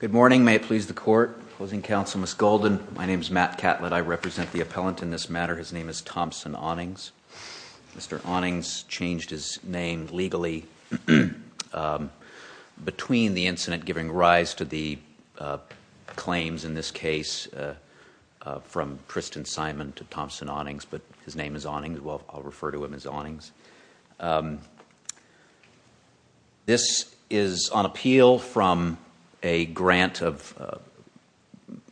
Good morning. May it please the court. Opposing counsel, Ms. Golden. My name is Matt Catlett. I represent the appellant in this matter. His name is Thompson Awnings. Mr. Awnings changed his name legally between the incident giving rise to the claims in this case from Tristan Simon to Thompson Awnings, but his name is Awnings. I'll refer to him as Awnings. This is on appeal from a grant of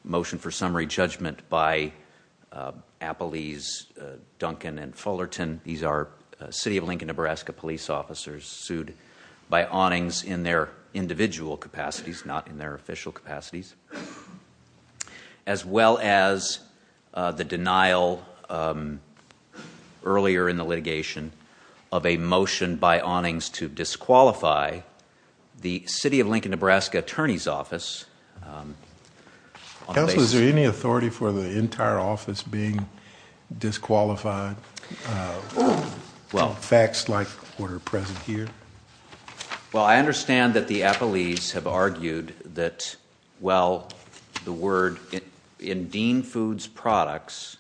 motion for summary judgment by Appellees Duncan and Fullerton. These are City of Lincoln, Nebraska police officers sued by Awnings in their individual capacities, not in their official capacities, as well as the denial earlier in the litigation of a motion by Awnings to disqualify the City of Lincoln, Nebraska Attorney's Office. Counsel, is there any authority for the entire office being disqualified? Facts like what is present here? Well, I understand that the appellees have argued that, well, the word in Dean Foods Products,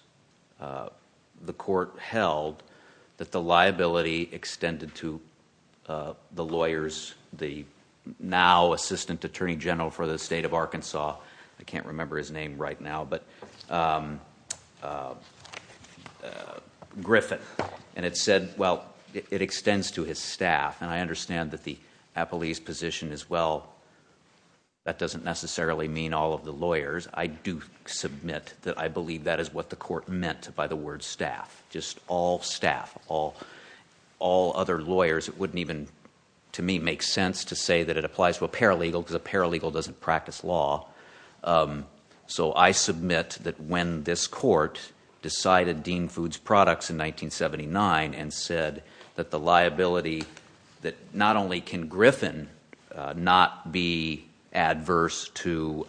the court held that the liability extended to the lawyers, the now Assistant Attorney General for the State of Arkansas, I can't remember his name right now, but Griffin, and it said, well, it extends to his staff, and I understand that the appellees' position is, well, that doesn't necessarily mean all of the lawyers. I do submit that I believe that is what the court meant by the word staff, just all staff, all other lawyers. It wouldn't even, to me, make sense to say that it applies to a paralegal because a paralegal doesn't practice law. So I submit that when this court decided Dean Foods Products in 1979 and said that the liability, that not only can Griffin not be adverse to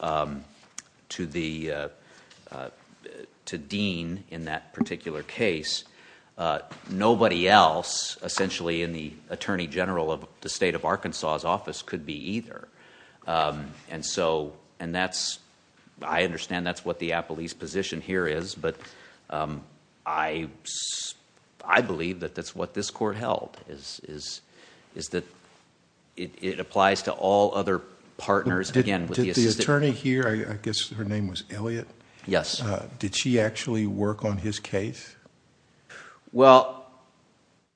Dean in that particular case, nobody else, essentially, in the Attorney General of the state, and I understand that's what the appellee's position here is, but I believe that that's what this court held, is that it applies to all other partners, again, with the assistant... Did the attorney here, I guess her name was Elliott, did she actually work on his case? Well,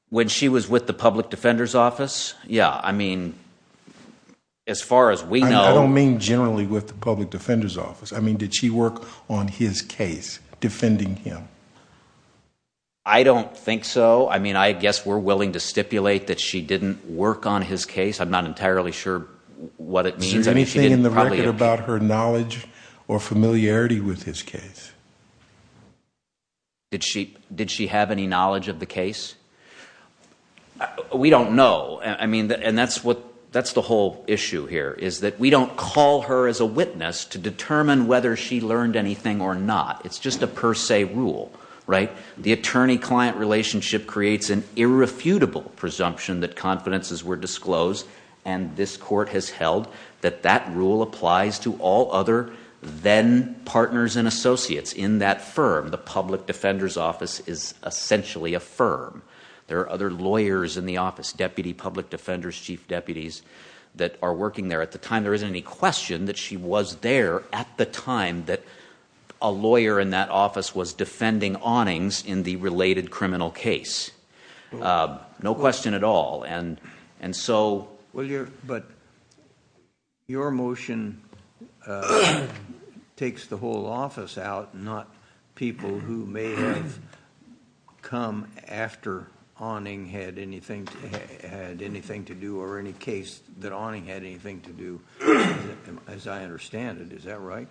when she was with the Public Defender's Office, yeah. I mean, as far as we know... I don't mean generally with the Public Defender's Office. I mean, did she work on his case, defending him? I don't think so. I mean, I guess we're willing to stipulate that she didn't work on his case. I'm not entirely sure what it means. Is there anything in the record about her knowledge or familiarity with his case? Did she have any knowledge of the case? We don't know. I mean, and that's the whole issue here, is that we don't call her as a witness to determine whether she learned anything or not. It's just a per se rule, right? The attorney-client relationship creates an irrefutable presumption that confidences were disclosed, and this court has held that that rule applies to all other then-partners and associates in that firm. The Public Defender's Office is essentially a firm. There are other lawyers in the office, deputy public defenders, chief deputies, that are working there. At the time, there isn't any question that she was there at the time that a lawyer in that office was defending awnings in the related criminal case. No question at all. But your motion takes the whole office out, not people who may have come after awning had anything to do or any case that awning had anything to do, as I understand it. Is that right?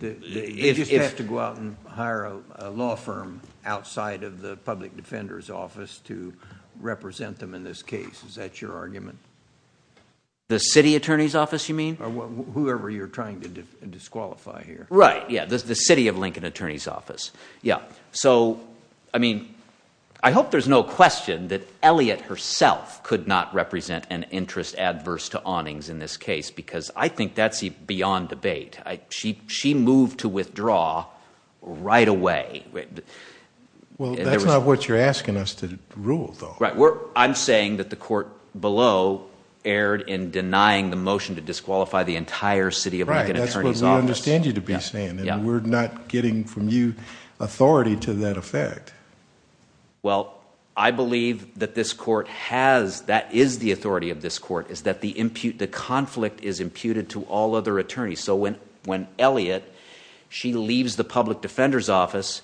They just have to go out and hire a law firm outside of the Public Defender's Office to represent them in this case. Is that your argument? The city attorney's office, you mean? Whoever you're trying to disqualify here. Right, yeah, the city of Lincoln attorney's office. So, I mean, I hope there's no question that Elliot herself could not represent an interest adverse to awnings in this case because I think that's beyond debate. She moved to withdraw right away. Well, that's not what you're asking us to rule, though. Right, I'm saying that the court below erred in denying the motion to disqualify the entire city of Lincoln attorney's office. Right, that's what we understand you to be saying. We're not getting from you authority to that effect. Well, I believe that this court has, that is the authority of this court, is that the conflict is imputed to all other attorneys. So when Elliot, she leaves the Public Defender's Office,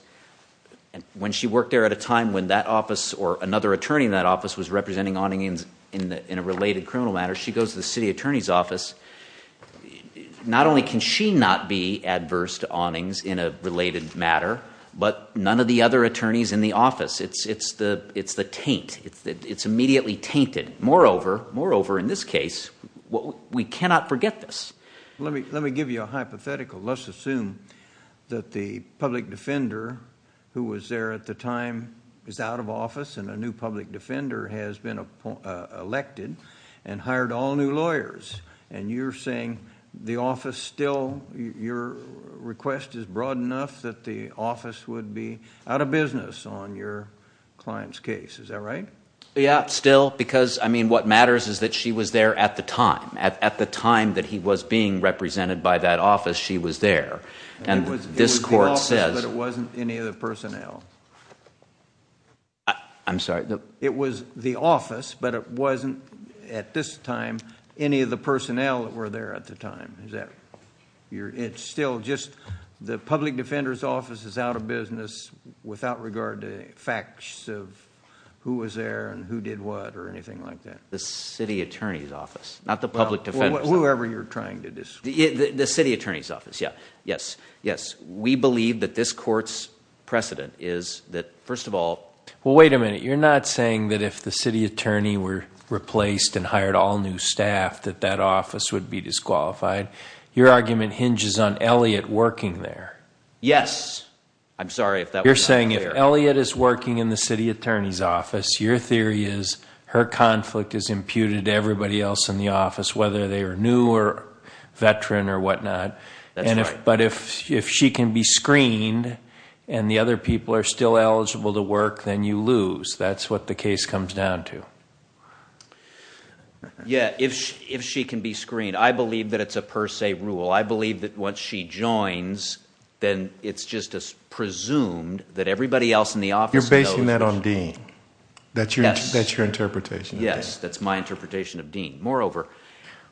when she worked there at a time when that office or another attorney in that office was representing awnings in a related criminal matter, she goes to the city attorney's office. Not only can she not be adverse to awnings in a related matter, but none of the other attorneys in the office. It's the taint. It's immediately tainted. Moreover, in this case, we cannot forget this. Let me give you a hypothetical. Let's assume that the public defender who was there at the time is out of office and a new public defender has been elected and hired all new lawyers. And you're saying the office still, your request is broad enough that the office would be out of business on your client's case. Is that right? Yeah, still. Because, I mean, what matters is that she was there at the time. At the time that he was being represented by that office, she was there. And this court says... It was the office, but it wasn't any of the personnel. I'm sorry? It was the office, but it wasn't, at this time, any of the personnel that were there at the time. It's still just the public defender's office is out of business without regard to facts of who was there and who did what or anything like that. The city attorney's office, not the public defender's office. Whoever you're trying to describe. The city attorney's office, yes. We believe that this court's precedent is that, first of all... Well, wait a minute. You're not saying that if the city attorney were replaced and hired all new staff that that office would be disqualified. Your argument hinges on Elliot working there. Yes. I'm sorry if that was not clear. You're saying if Elliot is working in the city attorney's office, your theory is her conflict is imputed to everybody else in the office, whether they are new or veteran or whatnot. That's right. But if she can be screened and the other people are still eligible to work, then you lose. That's what the case comes down to. Yeah, if she can be screened. I believe that it's a per se rule. I believe that once she joins, then it's just as presumed that everybody else in the office... You're basing that on Dean. That's your interpretation. Yes, that's my interpretation of Dean. Moreover,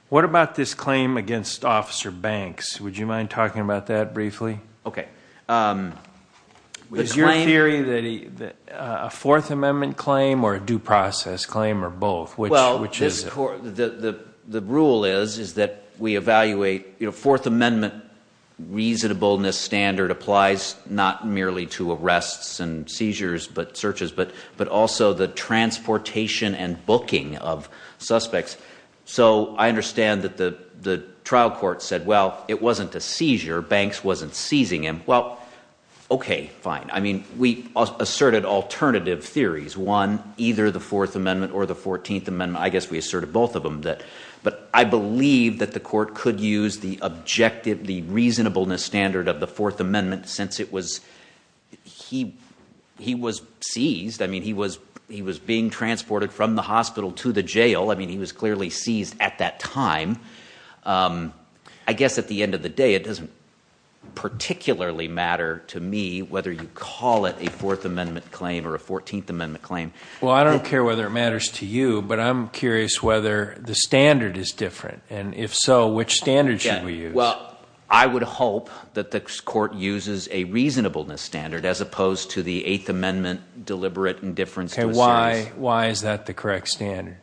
what about this claim against Officer Banks? Would you mind talking about that briefly? Okay. Is your theory a Fourth Amendment claim or a due process claim or both? The rule is that we evaluate Fourth Amendment reasonableness standard applies not merely to arrests and seizures but searches but also the transportation and booking of suspects. So I understand that the trial court said, well, it wasn't a seizure. Banks wasn't seizing him. Well, okay, fine. I mean we asserted alternative theories, one, either the Fourth Amendment or the Fourteenth Amendment. I guess we asserted both of them. But I believe that the court could use the objective, the reasonableness standard of the Fourth Amendment since he was seized. I mean he was being transported from the hospital to the jail. I mean he was clearly seized at that time. I guess at the end of the day, it doesn't particularly matter to me whether you call it a Fourth Amendment claim or a Fourteenth Amendment claim. Well, I don't care whether it matters to you, but I'm curious whether the standard is different. And if so, which standard should we use? Well, I would hope that the court uses a reasonableness standard as opposed to the Eighth Amendment deliberate indifference to a series. Why is that the correct standard?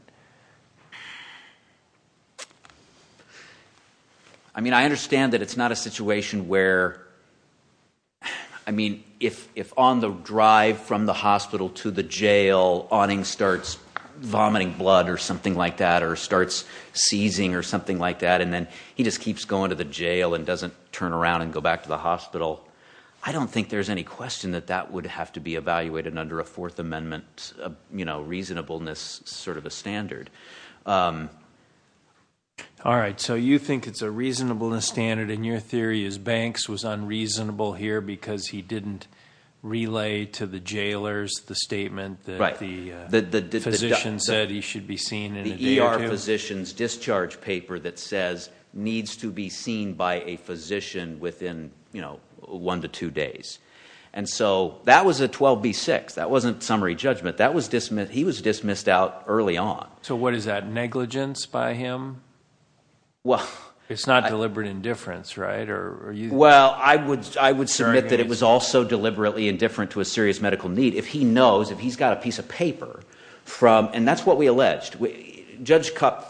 I mean I understand that it's not a situation where, I mean, if on the drive from the hospital to the jail, Awning starts vomiting blood or something like that or starts seizing or something like that, and then he just keeps going to the jail and doesn't turn around and go back to the hospital, I don't think there's any question that that would have to be evaluated under a Fourth Amendment reasonableness sort of a standard. All right, so you think it's a reasonableness standard. And your theory is Banks was unreasonable here because he didn't relay to the jailers the statement that the physician said he should be seen in a day or two? The ER physician's discharge paper that says needs to be seen by a physician within one to two days. And so that was a 12B6. That wasn't summary judgment. He was dismissed out early on. So what is that, negligence by him? It's not deliberate indifference, right? Well, I would submit that it was also deliberately indifferent to a serious medical need. If he knows, if he's got a piece of paper from, and that's what we alleged. Judge Kupf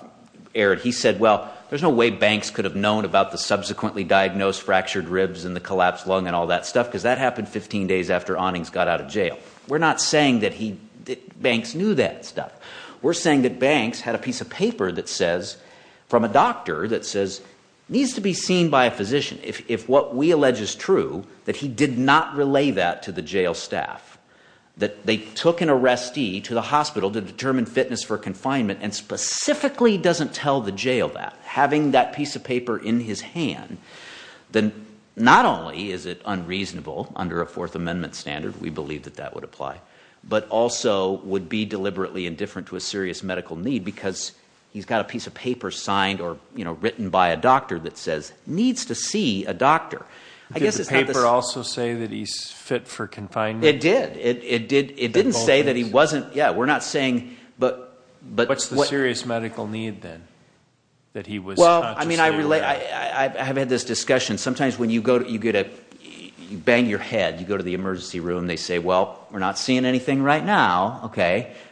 aired, he said, well, there's no way Banks could have known about the subsequently diagnosed fractured ribs and the collapsed lung and all that stuff because that happened 15 days after Awning got out of jail. We're not saying that Banks knew that stuff. We're saying that Banks had a piece of paper that says, from a doctor, that says needs to be seen by a physician. If what we allege is true, that he did not relay that to the jail staff, that they took an arrestee to the hospital to determine fitness for confinement and specifically doesn't tell the jail that, having that piece of paper in his hand, then not only is it unreasonable under a Fourth Amendment standard, we believe that that would apply, but also would be deliberately indifferent to a serious medical need because he's got a piece of paper signed or written by a doctor that says needs to see a doctor. Did the paper also say that he's fit for confinement? It did. It didn't say that he wasn't, yeah, we're not saying, but. What's the serious medical need then? Well, I have had this discussion. Sometimes when you bang your head, you go to the emergency room, they say, well, we're not seeing anything right now.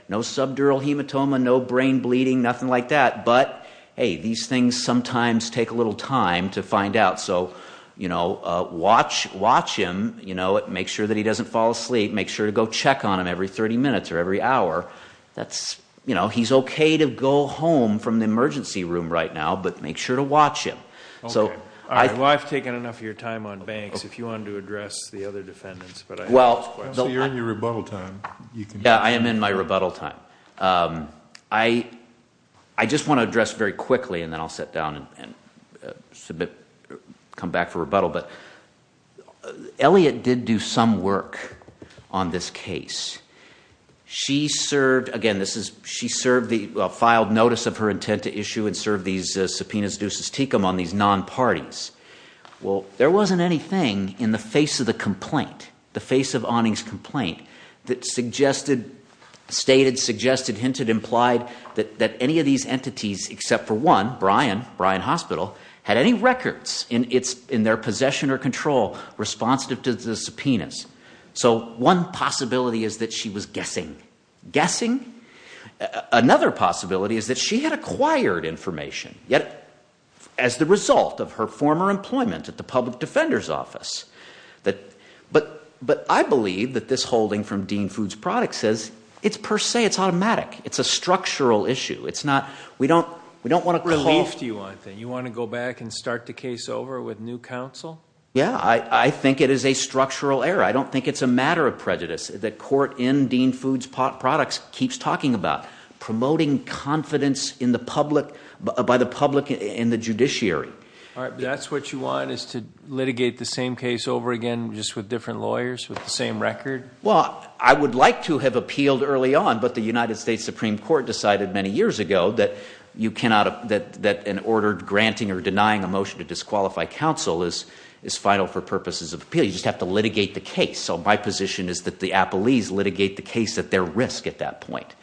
No subdural hematoma, no brain bleeding, nothing like that. But, hey, these things sometimes take a little time to find out, so watch him. Make sure that he doesn't fall asleep. Make sure to go check on him every 30 minutes or every hour. He's okay to go home from the emergency room right now, but make sure to watch him. Well, I've taken enough of your time on banks if you wanted to address the other defendants. So you're in your rebuttal time. Yeah, I am in my rebuttal time. I just want to address very quickly, and then I'll sit down and come back for rebuttal. But Elliot did do some work on this case. She served, again, she filed notice of her intent to issue and serve these subpoenas deus ex tecum on these non-parties. Well, there wasn't anything in the face of the complaint, the face of Onning's complaint, that suggested, stated, suggested, hinted, implied, that any of these entities except for one, Brian, Brian Hospital, had any records in their possession or control responsive to the subpoenas. So one possibility is that she was guessing. Guessing? Another possibility is that she had acquired information, yet as the result of her former employment at the public defender's office. But I believe that this holding from Dean Foods Products says it's per se, it's automatic. It's a structural issue. It's not, we don't want to call. Relief to you on that. You want to go back and start the case over with new counsel? Yeah, I think it is a structural error. I don't think it's a matter of prejudice that court in Dean Foods Products keeps talking about promoting confidence in the public, by the public and the judiciary. All right, but that's what you want, is to litigate the same case over again just with different lawyers with the same record? Well, I would like to have appealed early on, but the United States Supreme Court decided many years ago that you cannot, that an order granting or denying a motion to disqualify counsel is vital for purposes of appeal. So you just have to litigate the case. So my position is that the appellees litigate the case at their risk at that point.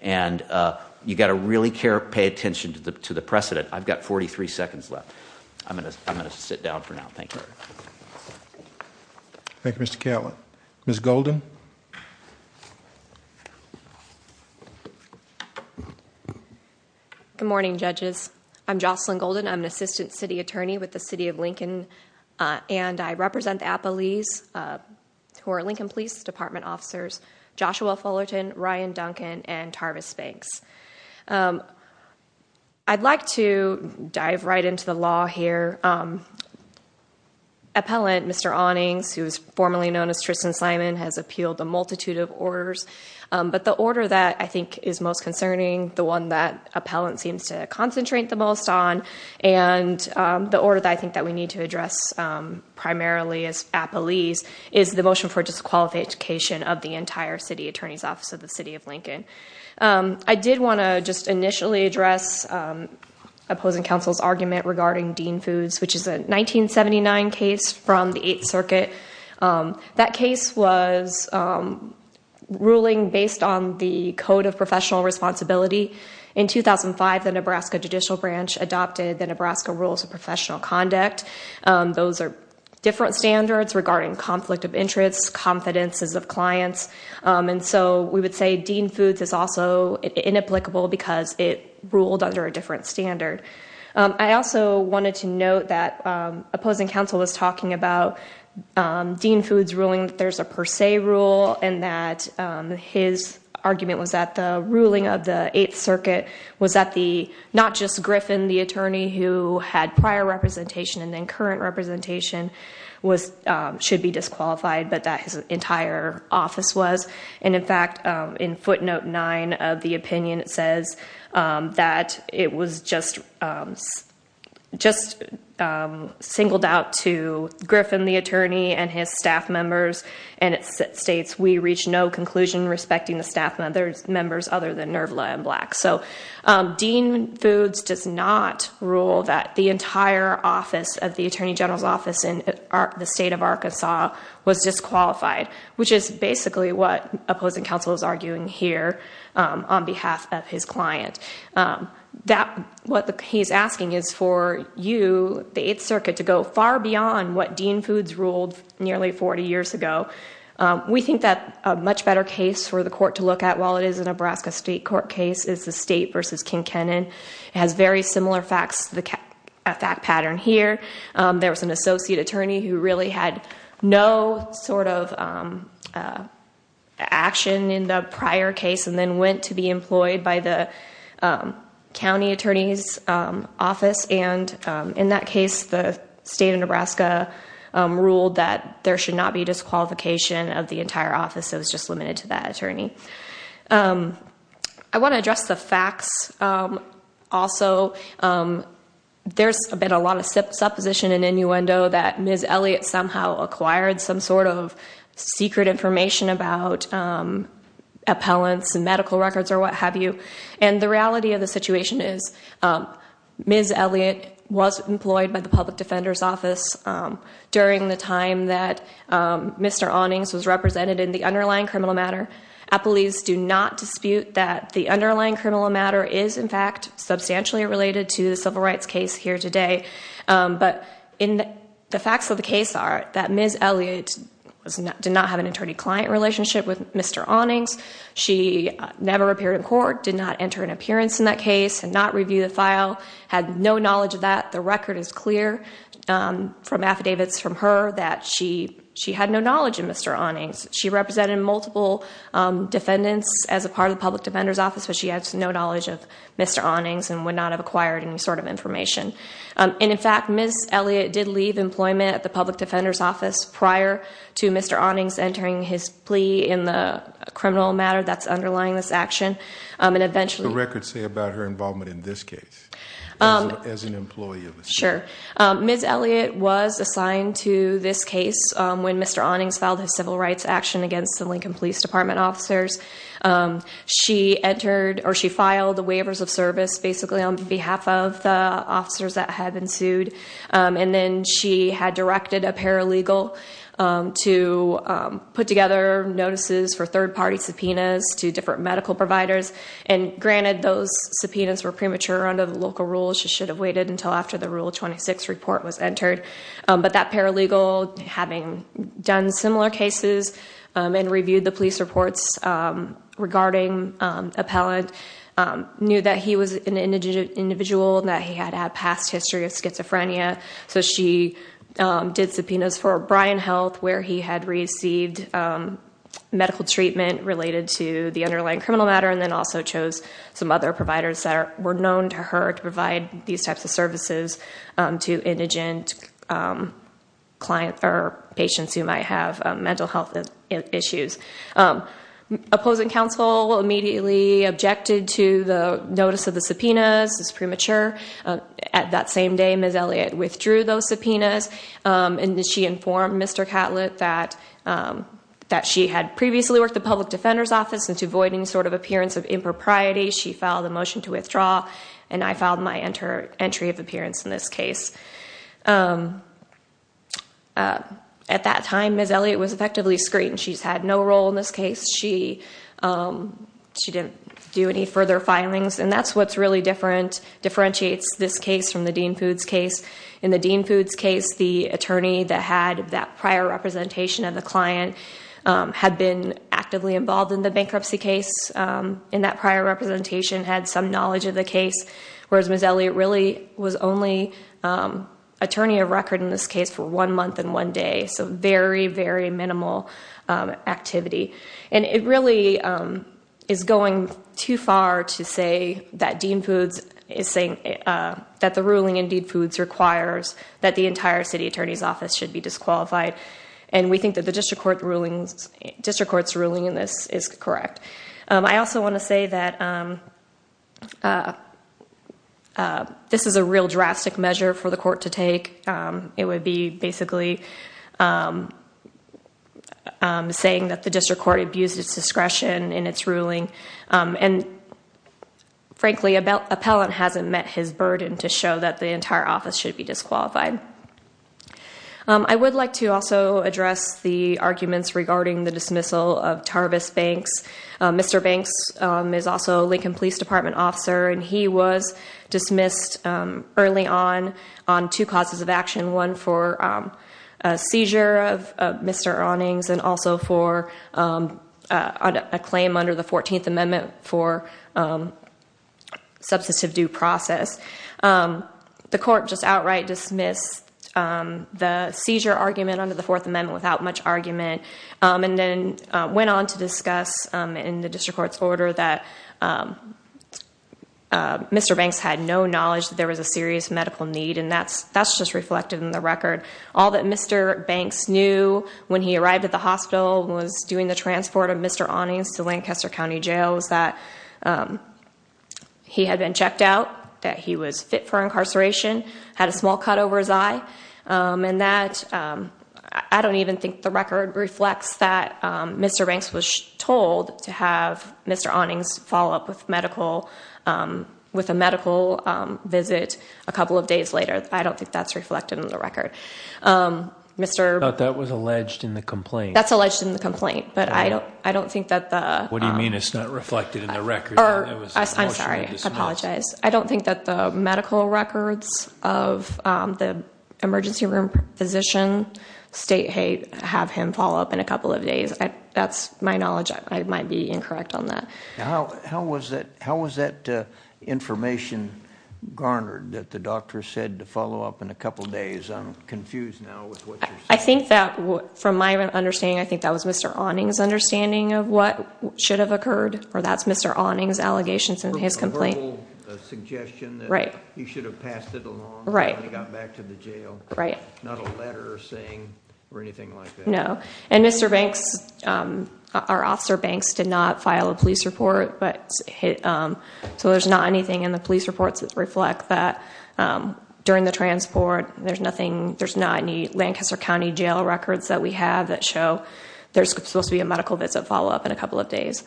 And you've got to really pay attention to the precedent. I've got 43 seconds left. I'm going to sit down for now. Thank you. Thank you, Mr. Catlin. Ms. Golden? Good morning, judges. I'm Jocelyn Golden. I'm an assistant city attorney with the city of Lincoln, and I represent the appellees who are Lincoln Police Department officers, Joshua Fullerton, Ryan Duncan, and Tarvis Banks. I'd like to dive right into the law here. Appellant Mr. Onnings, who is formerly known as Tristan Simon, has appealed a multitude of orders. But the order that I think is most concerning, the one that appellant seems to concentrate the most on, and the order that I think that we need to address primarily as appellees, is the motion for disqualification of the entire city attorney's office of the city of Lincoln. I did want to just initially address opposing counsel's argument regarding Dean Foods, which is a 1979 case from the Eighth Circuit. That case was ruling based on the Code of Professional Responsibility. In 2005, the Nebraska Judicial Branch adopted the Nebraska Rules of Professional Conduct. Those are different standards regarding conflict of interest, confidences of clients. We would say Dean Foods is also inapplicable because it ruled under a different standard. I also wanted to note that opposing counsel was talking about Dean Foods ruling that there's a per se rule, and that his argument was that the ruling of the Eighth Circuit was that not just Griffin, the attorney who had prior representation and then current representation, should be disqualified, but that his entire office was. In fact, in footnote 9 of the opinion, it says that it was just singled out to Griffin, the attorney, and his staff members, and it states, we reached no conclusion respecting the staff members other than Nervla and Black. Dean Foods does not rule that the entire office of the Attorney General's office in the state of Arkansas was disqualified, which is basically what opposing counsel is arguing here on behalf of his client. What he's asking is for you, the Eighth Circuit, to go far beyond what Dean Foods ruled nearly 40 years ago. We think that a much better case for the court to look at, while it is a Nebraska state court case, is the State v. King Kennan. It has very similar facts to the fact pattern here. There was an associate attorney who really had no sort of action in the prior case and then went to be employed by the county attorney's office. In that case, the state of Nebraska ruled that there should not be disqualification of the entire office. It was just limited to that attorney. I want to address the facts also. There's been a lot of supposition and innuendo that Ms. Elliott somehow acquired some sort of secret information about appellants and medical records or what have you. The reality of the situation is Ms. Elliott was employed by the public defender's office during the time that Mr. Ahnings was represented in the underlying criminal matter. Appellees do not dispute that the underlying criminal matter is, in fact, substantially related to the civil rights case here today. The facts of the case are that Ms. Elliott did not have an attorney-client relationship with Mr. Ahnings. She never appeared in court, did not enter an appearance in that case, did not review the file, had no knowledge of that. The record is clear from affidavits from her that she had no knowledge of Mr. Ahnings. She represented multiple defendants as a part of the public defender's office, but she has no knowledge of Mr. Ahnings and would not have acquired any sort of information. In fact, Ms. Elliott did leave employment at the public defender's office prior to Mr. Ahnings entering his plea in the criminal matter that's underlying this action. What does the record say about her involvement in this case as an employee? Sure. Ms. Elliott was assigned to this case when Mr. Ahnings filed his civil rights action against the Lincoln Police Department officers. She filed the waivers of service basically on behalf of the officers that had been sued. Then she had directed a paralegal to put together notices for third-party subpoenas to different medical providers. Granted, those subpoenas were premature under the local rules. She should have waited until after the Rule 26 report was entered. That paralegal, having done similar cases and reviewed the police reports regarding Appellant, knew that he was an indigent individual and that he had a past history of schizophrenia. She did subpoenas for Bryan Health where he had received medical treatment related to the underlying criminal matter and then also chose some other providers that were known to her to provide these types of services to indigent patients who might have mental health issues. Opposing counsel immediately objected to the notice of the subpoenas. It's premature. At that same day, Ms. Elliott withdrew those subpoenas and she informed Mr. Catlett that she had previously worked the Public Defender's Office and to avoid any sort of appearance of impropriety, she filed a motion to withdraw and I filed my entry of appearance in this case. At that time, Ms. Elliott was effectively screened. She's had no role in this case. She didn't do any further filings and that's what's really different, differentiates this case from the Dean Foods case. In the Dean Foods case, the attorney that had that prior representation of the client had been actively involved in the bankruptcy case in that prior representation, had some knowledge of the case, whereas Ms. Elliott really was only attorney of record in this case for one month and one day. So very, very minimal activity and it really is going too far to say that the ruling in Dean Foods requires that the entire city attorney's office should be disqualified and we think that the district court's ruling in this is correct. I also want to say that this is a real drastic measure for the court to take. It would be basically saying that the district court abused its discretion in its ruling and frankly, an appellant hasn't met his burden to show that the entire office should be disqualified. I would like to also address the arguments regarding the dismissal of Tarvis Banks. Mr. Banks is also a Lincoln Police Department officer and he was dismissed early on on two causes of action. One for a seizure of Mr. Awnings and also for a claim under the 14th Amendment for substantive due process. The court just outright dismissed the seizure argument under the 4th Amendment without much argument and then went on to discuss in the district court's order that Mr. Banks had no knowledge that there was a serious medical need. And that's just reflected in the record. All that Mr. Banks knew when he arrived at the hospital and was doing the transport of Mr. Awnings to Lancaster County Jail was that he had been checked out, that he was fit for incarceration, had a small cut over his eye and that I don't even think the record reflects that Mr. Banks was told to have Mr. Awnings follow up with a medical visit a couple of days later. I don't think that's reflected in the record. I thought that was alleged in the complaint. That's alleged in the complaint, but I don't think that the... What do you mean it's not reflected in the record? I'm sorry, I apologize. I don't think that the medical records of the emergency room physician state have him follow up in a couple of days. That's my knowledge. I might be incorrect on that. How was that information garnered that the doctor said to follow up in a couple of days? I'm confused now with what you're saying. I think that, from my understanding, I think that was Mr. Awnings' understanding of what should have occurred, or that's Mr. Awnings' allegations in his complaint. Or a verbal suggestion that he should have passed it along when he got back to the jail. Right. Not a letter saying or anything like that. No. And Mr. Banks, our officer Banks, did not file a police report, so there's not anything in the police reports that reflect that. During the transport, there's not any Lancaster County jail records that we have that show there's supposed to be a medical visit follow up in a couple of days.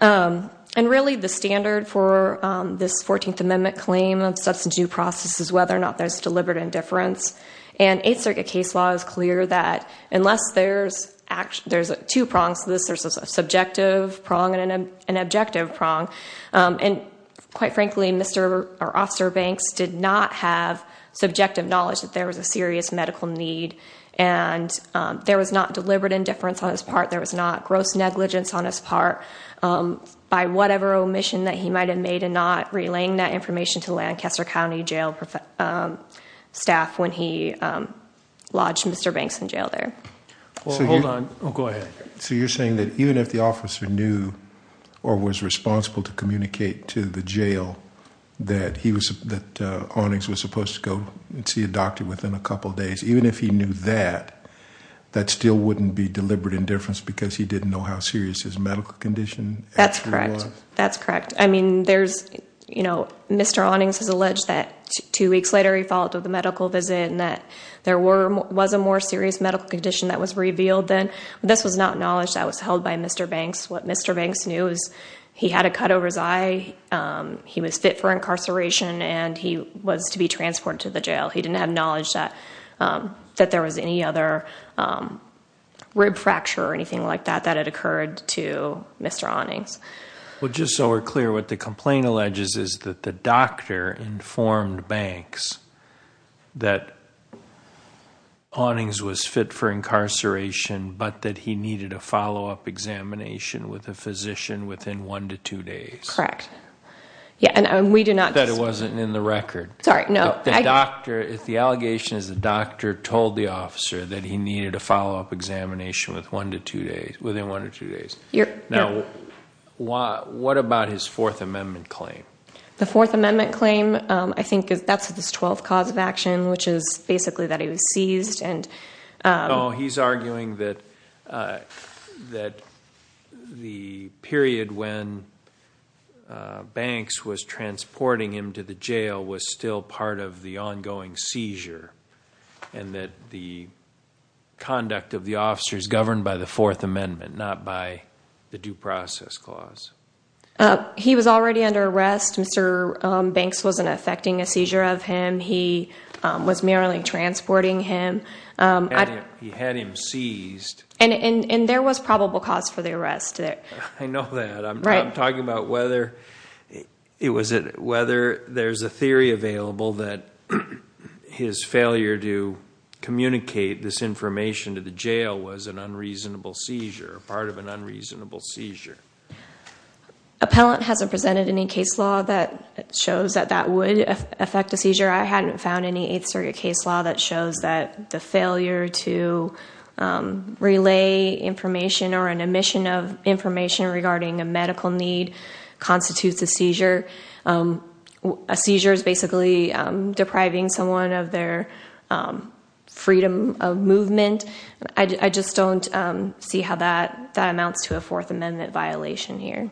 And really the standard for this 14th Amendment claim of substance use process is whether or not there's deliberate indifference. And Eighth Circuit case law is clear that unless there's two prongs to this, there's a subjective prong and an objective prong. And quite frankly, Mr. or Officer Banks did not have subjective knowledge that there was a serious medical need. And there was not deliberate indifference on his part. There was not gross negligence on his part. By whatever omission that he might have made in not relaying that information to Lancaster County jail staff when he lodged Mr. Banks in jail there. Well, hold on. Oh, go ahead. So you're saying that even if the officer knew or was responsible to communicate to the jail that Awnings was supposed to go see a doctor within a couple of days, even if he knew that, that still wouldn't be deliberate indifference because he didn't know how serious his medical condition actually was? That's correct. That's correct. I mean, there's, you know, Mr. Awnings has alleged that two weeks later he followed up with a medical visit and that there was a more serious medical condition that was revealed then. This was not knowledge that was held by Mr. Banks. What Mr. Banks knew is he had a cut over his eye, he was fit for incarceration, and he was to be transported to the jail. He didn't have knowledge that there was any other rib fracture or anything like that that had occurred to Mr. Awnings. Well, just so we're clear, what the complaint alleges is that the doctor informed Banks that Awnings was fit for incarceration but that he needed a follow-up examination with a physician within one to two days. Correct. Yeah, and we do not... That it wasn't in the record. Sorry, no. The doctor, the allegation is the doctor told the officer that he needed a follow-up examination within one to two days. Now, what about his Fourth Amendment claim? The Fourth Amendment claim, I think that's his twelfth cause of action, which is basically that he was seized and... No, he's arguing that the period when Banks was transporting him to the jail was still part of the ongoing seizure and that the conduct of the officers governed by the Fourth Amendment, not by the due process clause. He was already under arrest. Mr. Banks wasn't affecting a seizure of him. He was merely transporting him. He had him seized. And there was probable cause for the arrest. I know that. I'm talking about whether there's a theory available that his failure to communicate this information to the jail was an unreasonable seizure, part of an unreasonable seizure. Appellant hasn't presented any case law that shows that that would affect a seizure. I hadn't found any Eighth Circuit case law that shows that the failure to relay information or an omission of information regarding a medical need constitutes a seizure. A seizure is basically depriving someone of their freedom of movement. I just don't see how that amounts to a Fourth Amendment violation here.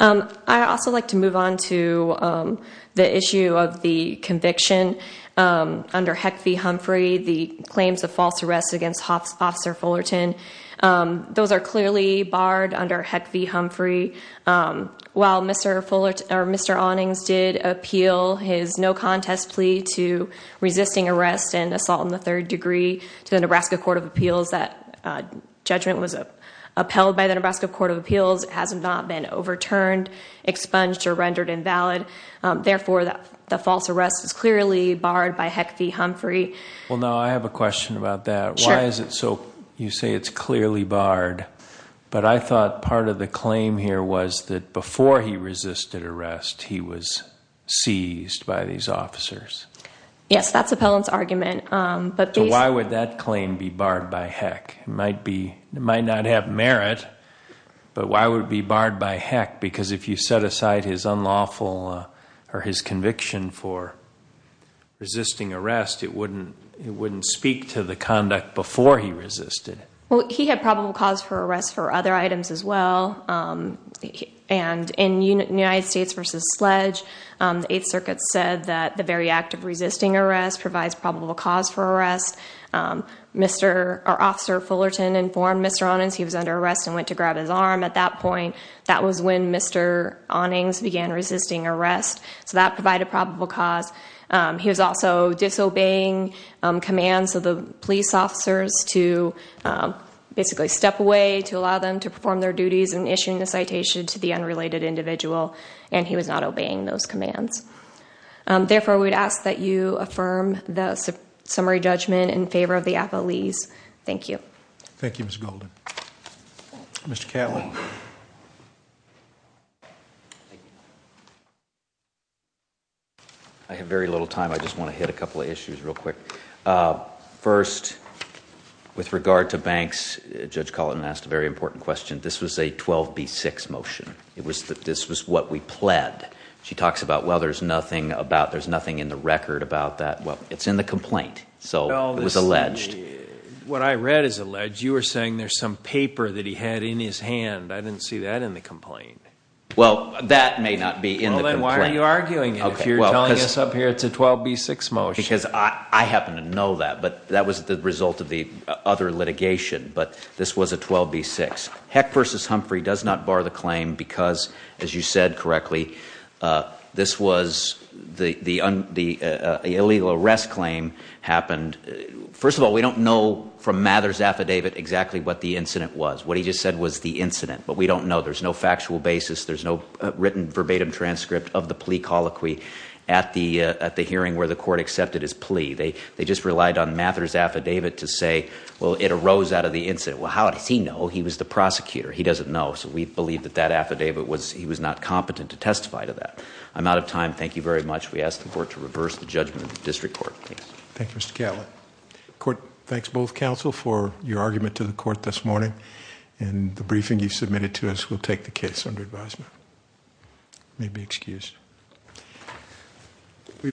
I'd also like to move on to the issue of the conviction under Heck v. Humphrey, the claims of false arrest against Officer Fullerton. Those are clearly barred under Heck v. Humphrey. While Mr. Onnings did appeal his no-contest plea to resisting arrest and assault in the third degree to the Nebraska Court of Appeals, that judgment was upheld by the Nebraska Court of Appeals. It has not been overturned, expunged, or rendered invalid. Therefore, the false arrest is clearly barred by Heck v. Humphrey. Well, now, I have a question about that. Sure. You say it's clearly barred, but I thought part of the claim here was that before he resisted arrest, he was seized by these officers. Yes, that's Appellant's argument. Why would that claim be barred by Heck? It might not have merit, but why would it be barred by Heck? Because if you set aside his unlawful or his conviction for resisting arrest, it wouldn't speak to the conduct before he resisted. Well, he had probable cause for arrest for other items as well. In United States v. Sledge, the Eighth Circuit said that the very act of resisting arrest provides probable cause for arrest. Officer Fullerton informed Mr. Onnings he was under arrest and went to grab his arm at that point. That was when Mr. Onnings began resisting arrest, so that provided probable cause. He was also disobeying commands of the police officers to basically step away, to allow them to perform their duties, and issuing the citation to the unrelated individual, and he was not obeying those commands. Therefore, we would ask that you affirm the summary judgment in favor of the Appellees. Thank you. Thank you, Ms. Golden. Mr. Catlin. I have very little time. I just want to hit a couple of issues real quick. First, with regard to banks, Judge Collin asked a very important question. This was a 12B6 motion. This was what we pled. She talks about, well, there's nothing in the record about that. Well, it's in the complaint, so it was alleged. What I read is alleged. You were saying there's some paper that he had in his hand. I didn't see that in the complaint. Well, that may not be in the complaint. Well, then why are you arguing it if you're telling us up here it's a 12B6 motion? Because I happen to know that, but that was the result of the other litigation, but this was a 12B6. Heck v. Humphrey does not bar the claim because, as you said correctly, this was the illegal arrest claim happened. First of all, we don't know from Mather's affidavit exactly what the incident was. What he just said was the incident, but we don't know. There's no factual basis. There's no written verbatim transcript of the plea colloquy at the hearing where the court accepted his plea. They just relied on Mather's affidavit to say, well, it arose out of the incident. Well, how does he know? Well, he was the prosecutor. He doesn't know, so we believe that that affidavit was he was not competent to testify to that. I'm out of time. Thank you very much. We ask the court to reverse the judgment of the district court. Thanks. Thank you, Mr. Catlin. Court, thanks both counsel for your argument to the court this morning. The briefing you submitted to us will take the case under advisement. You may be excused.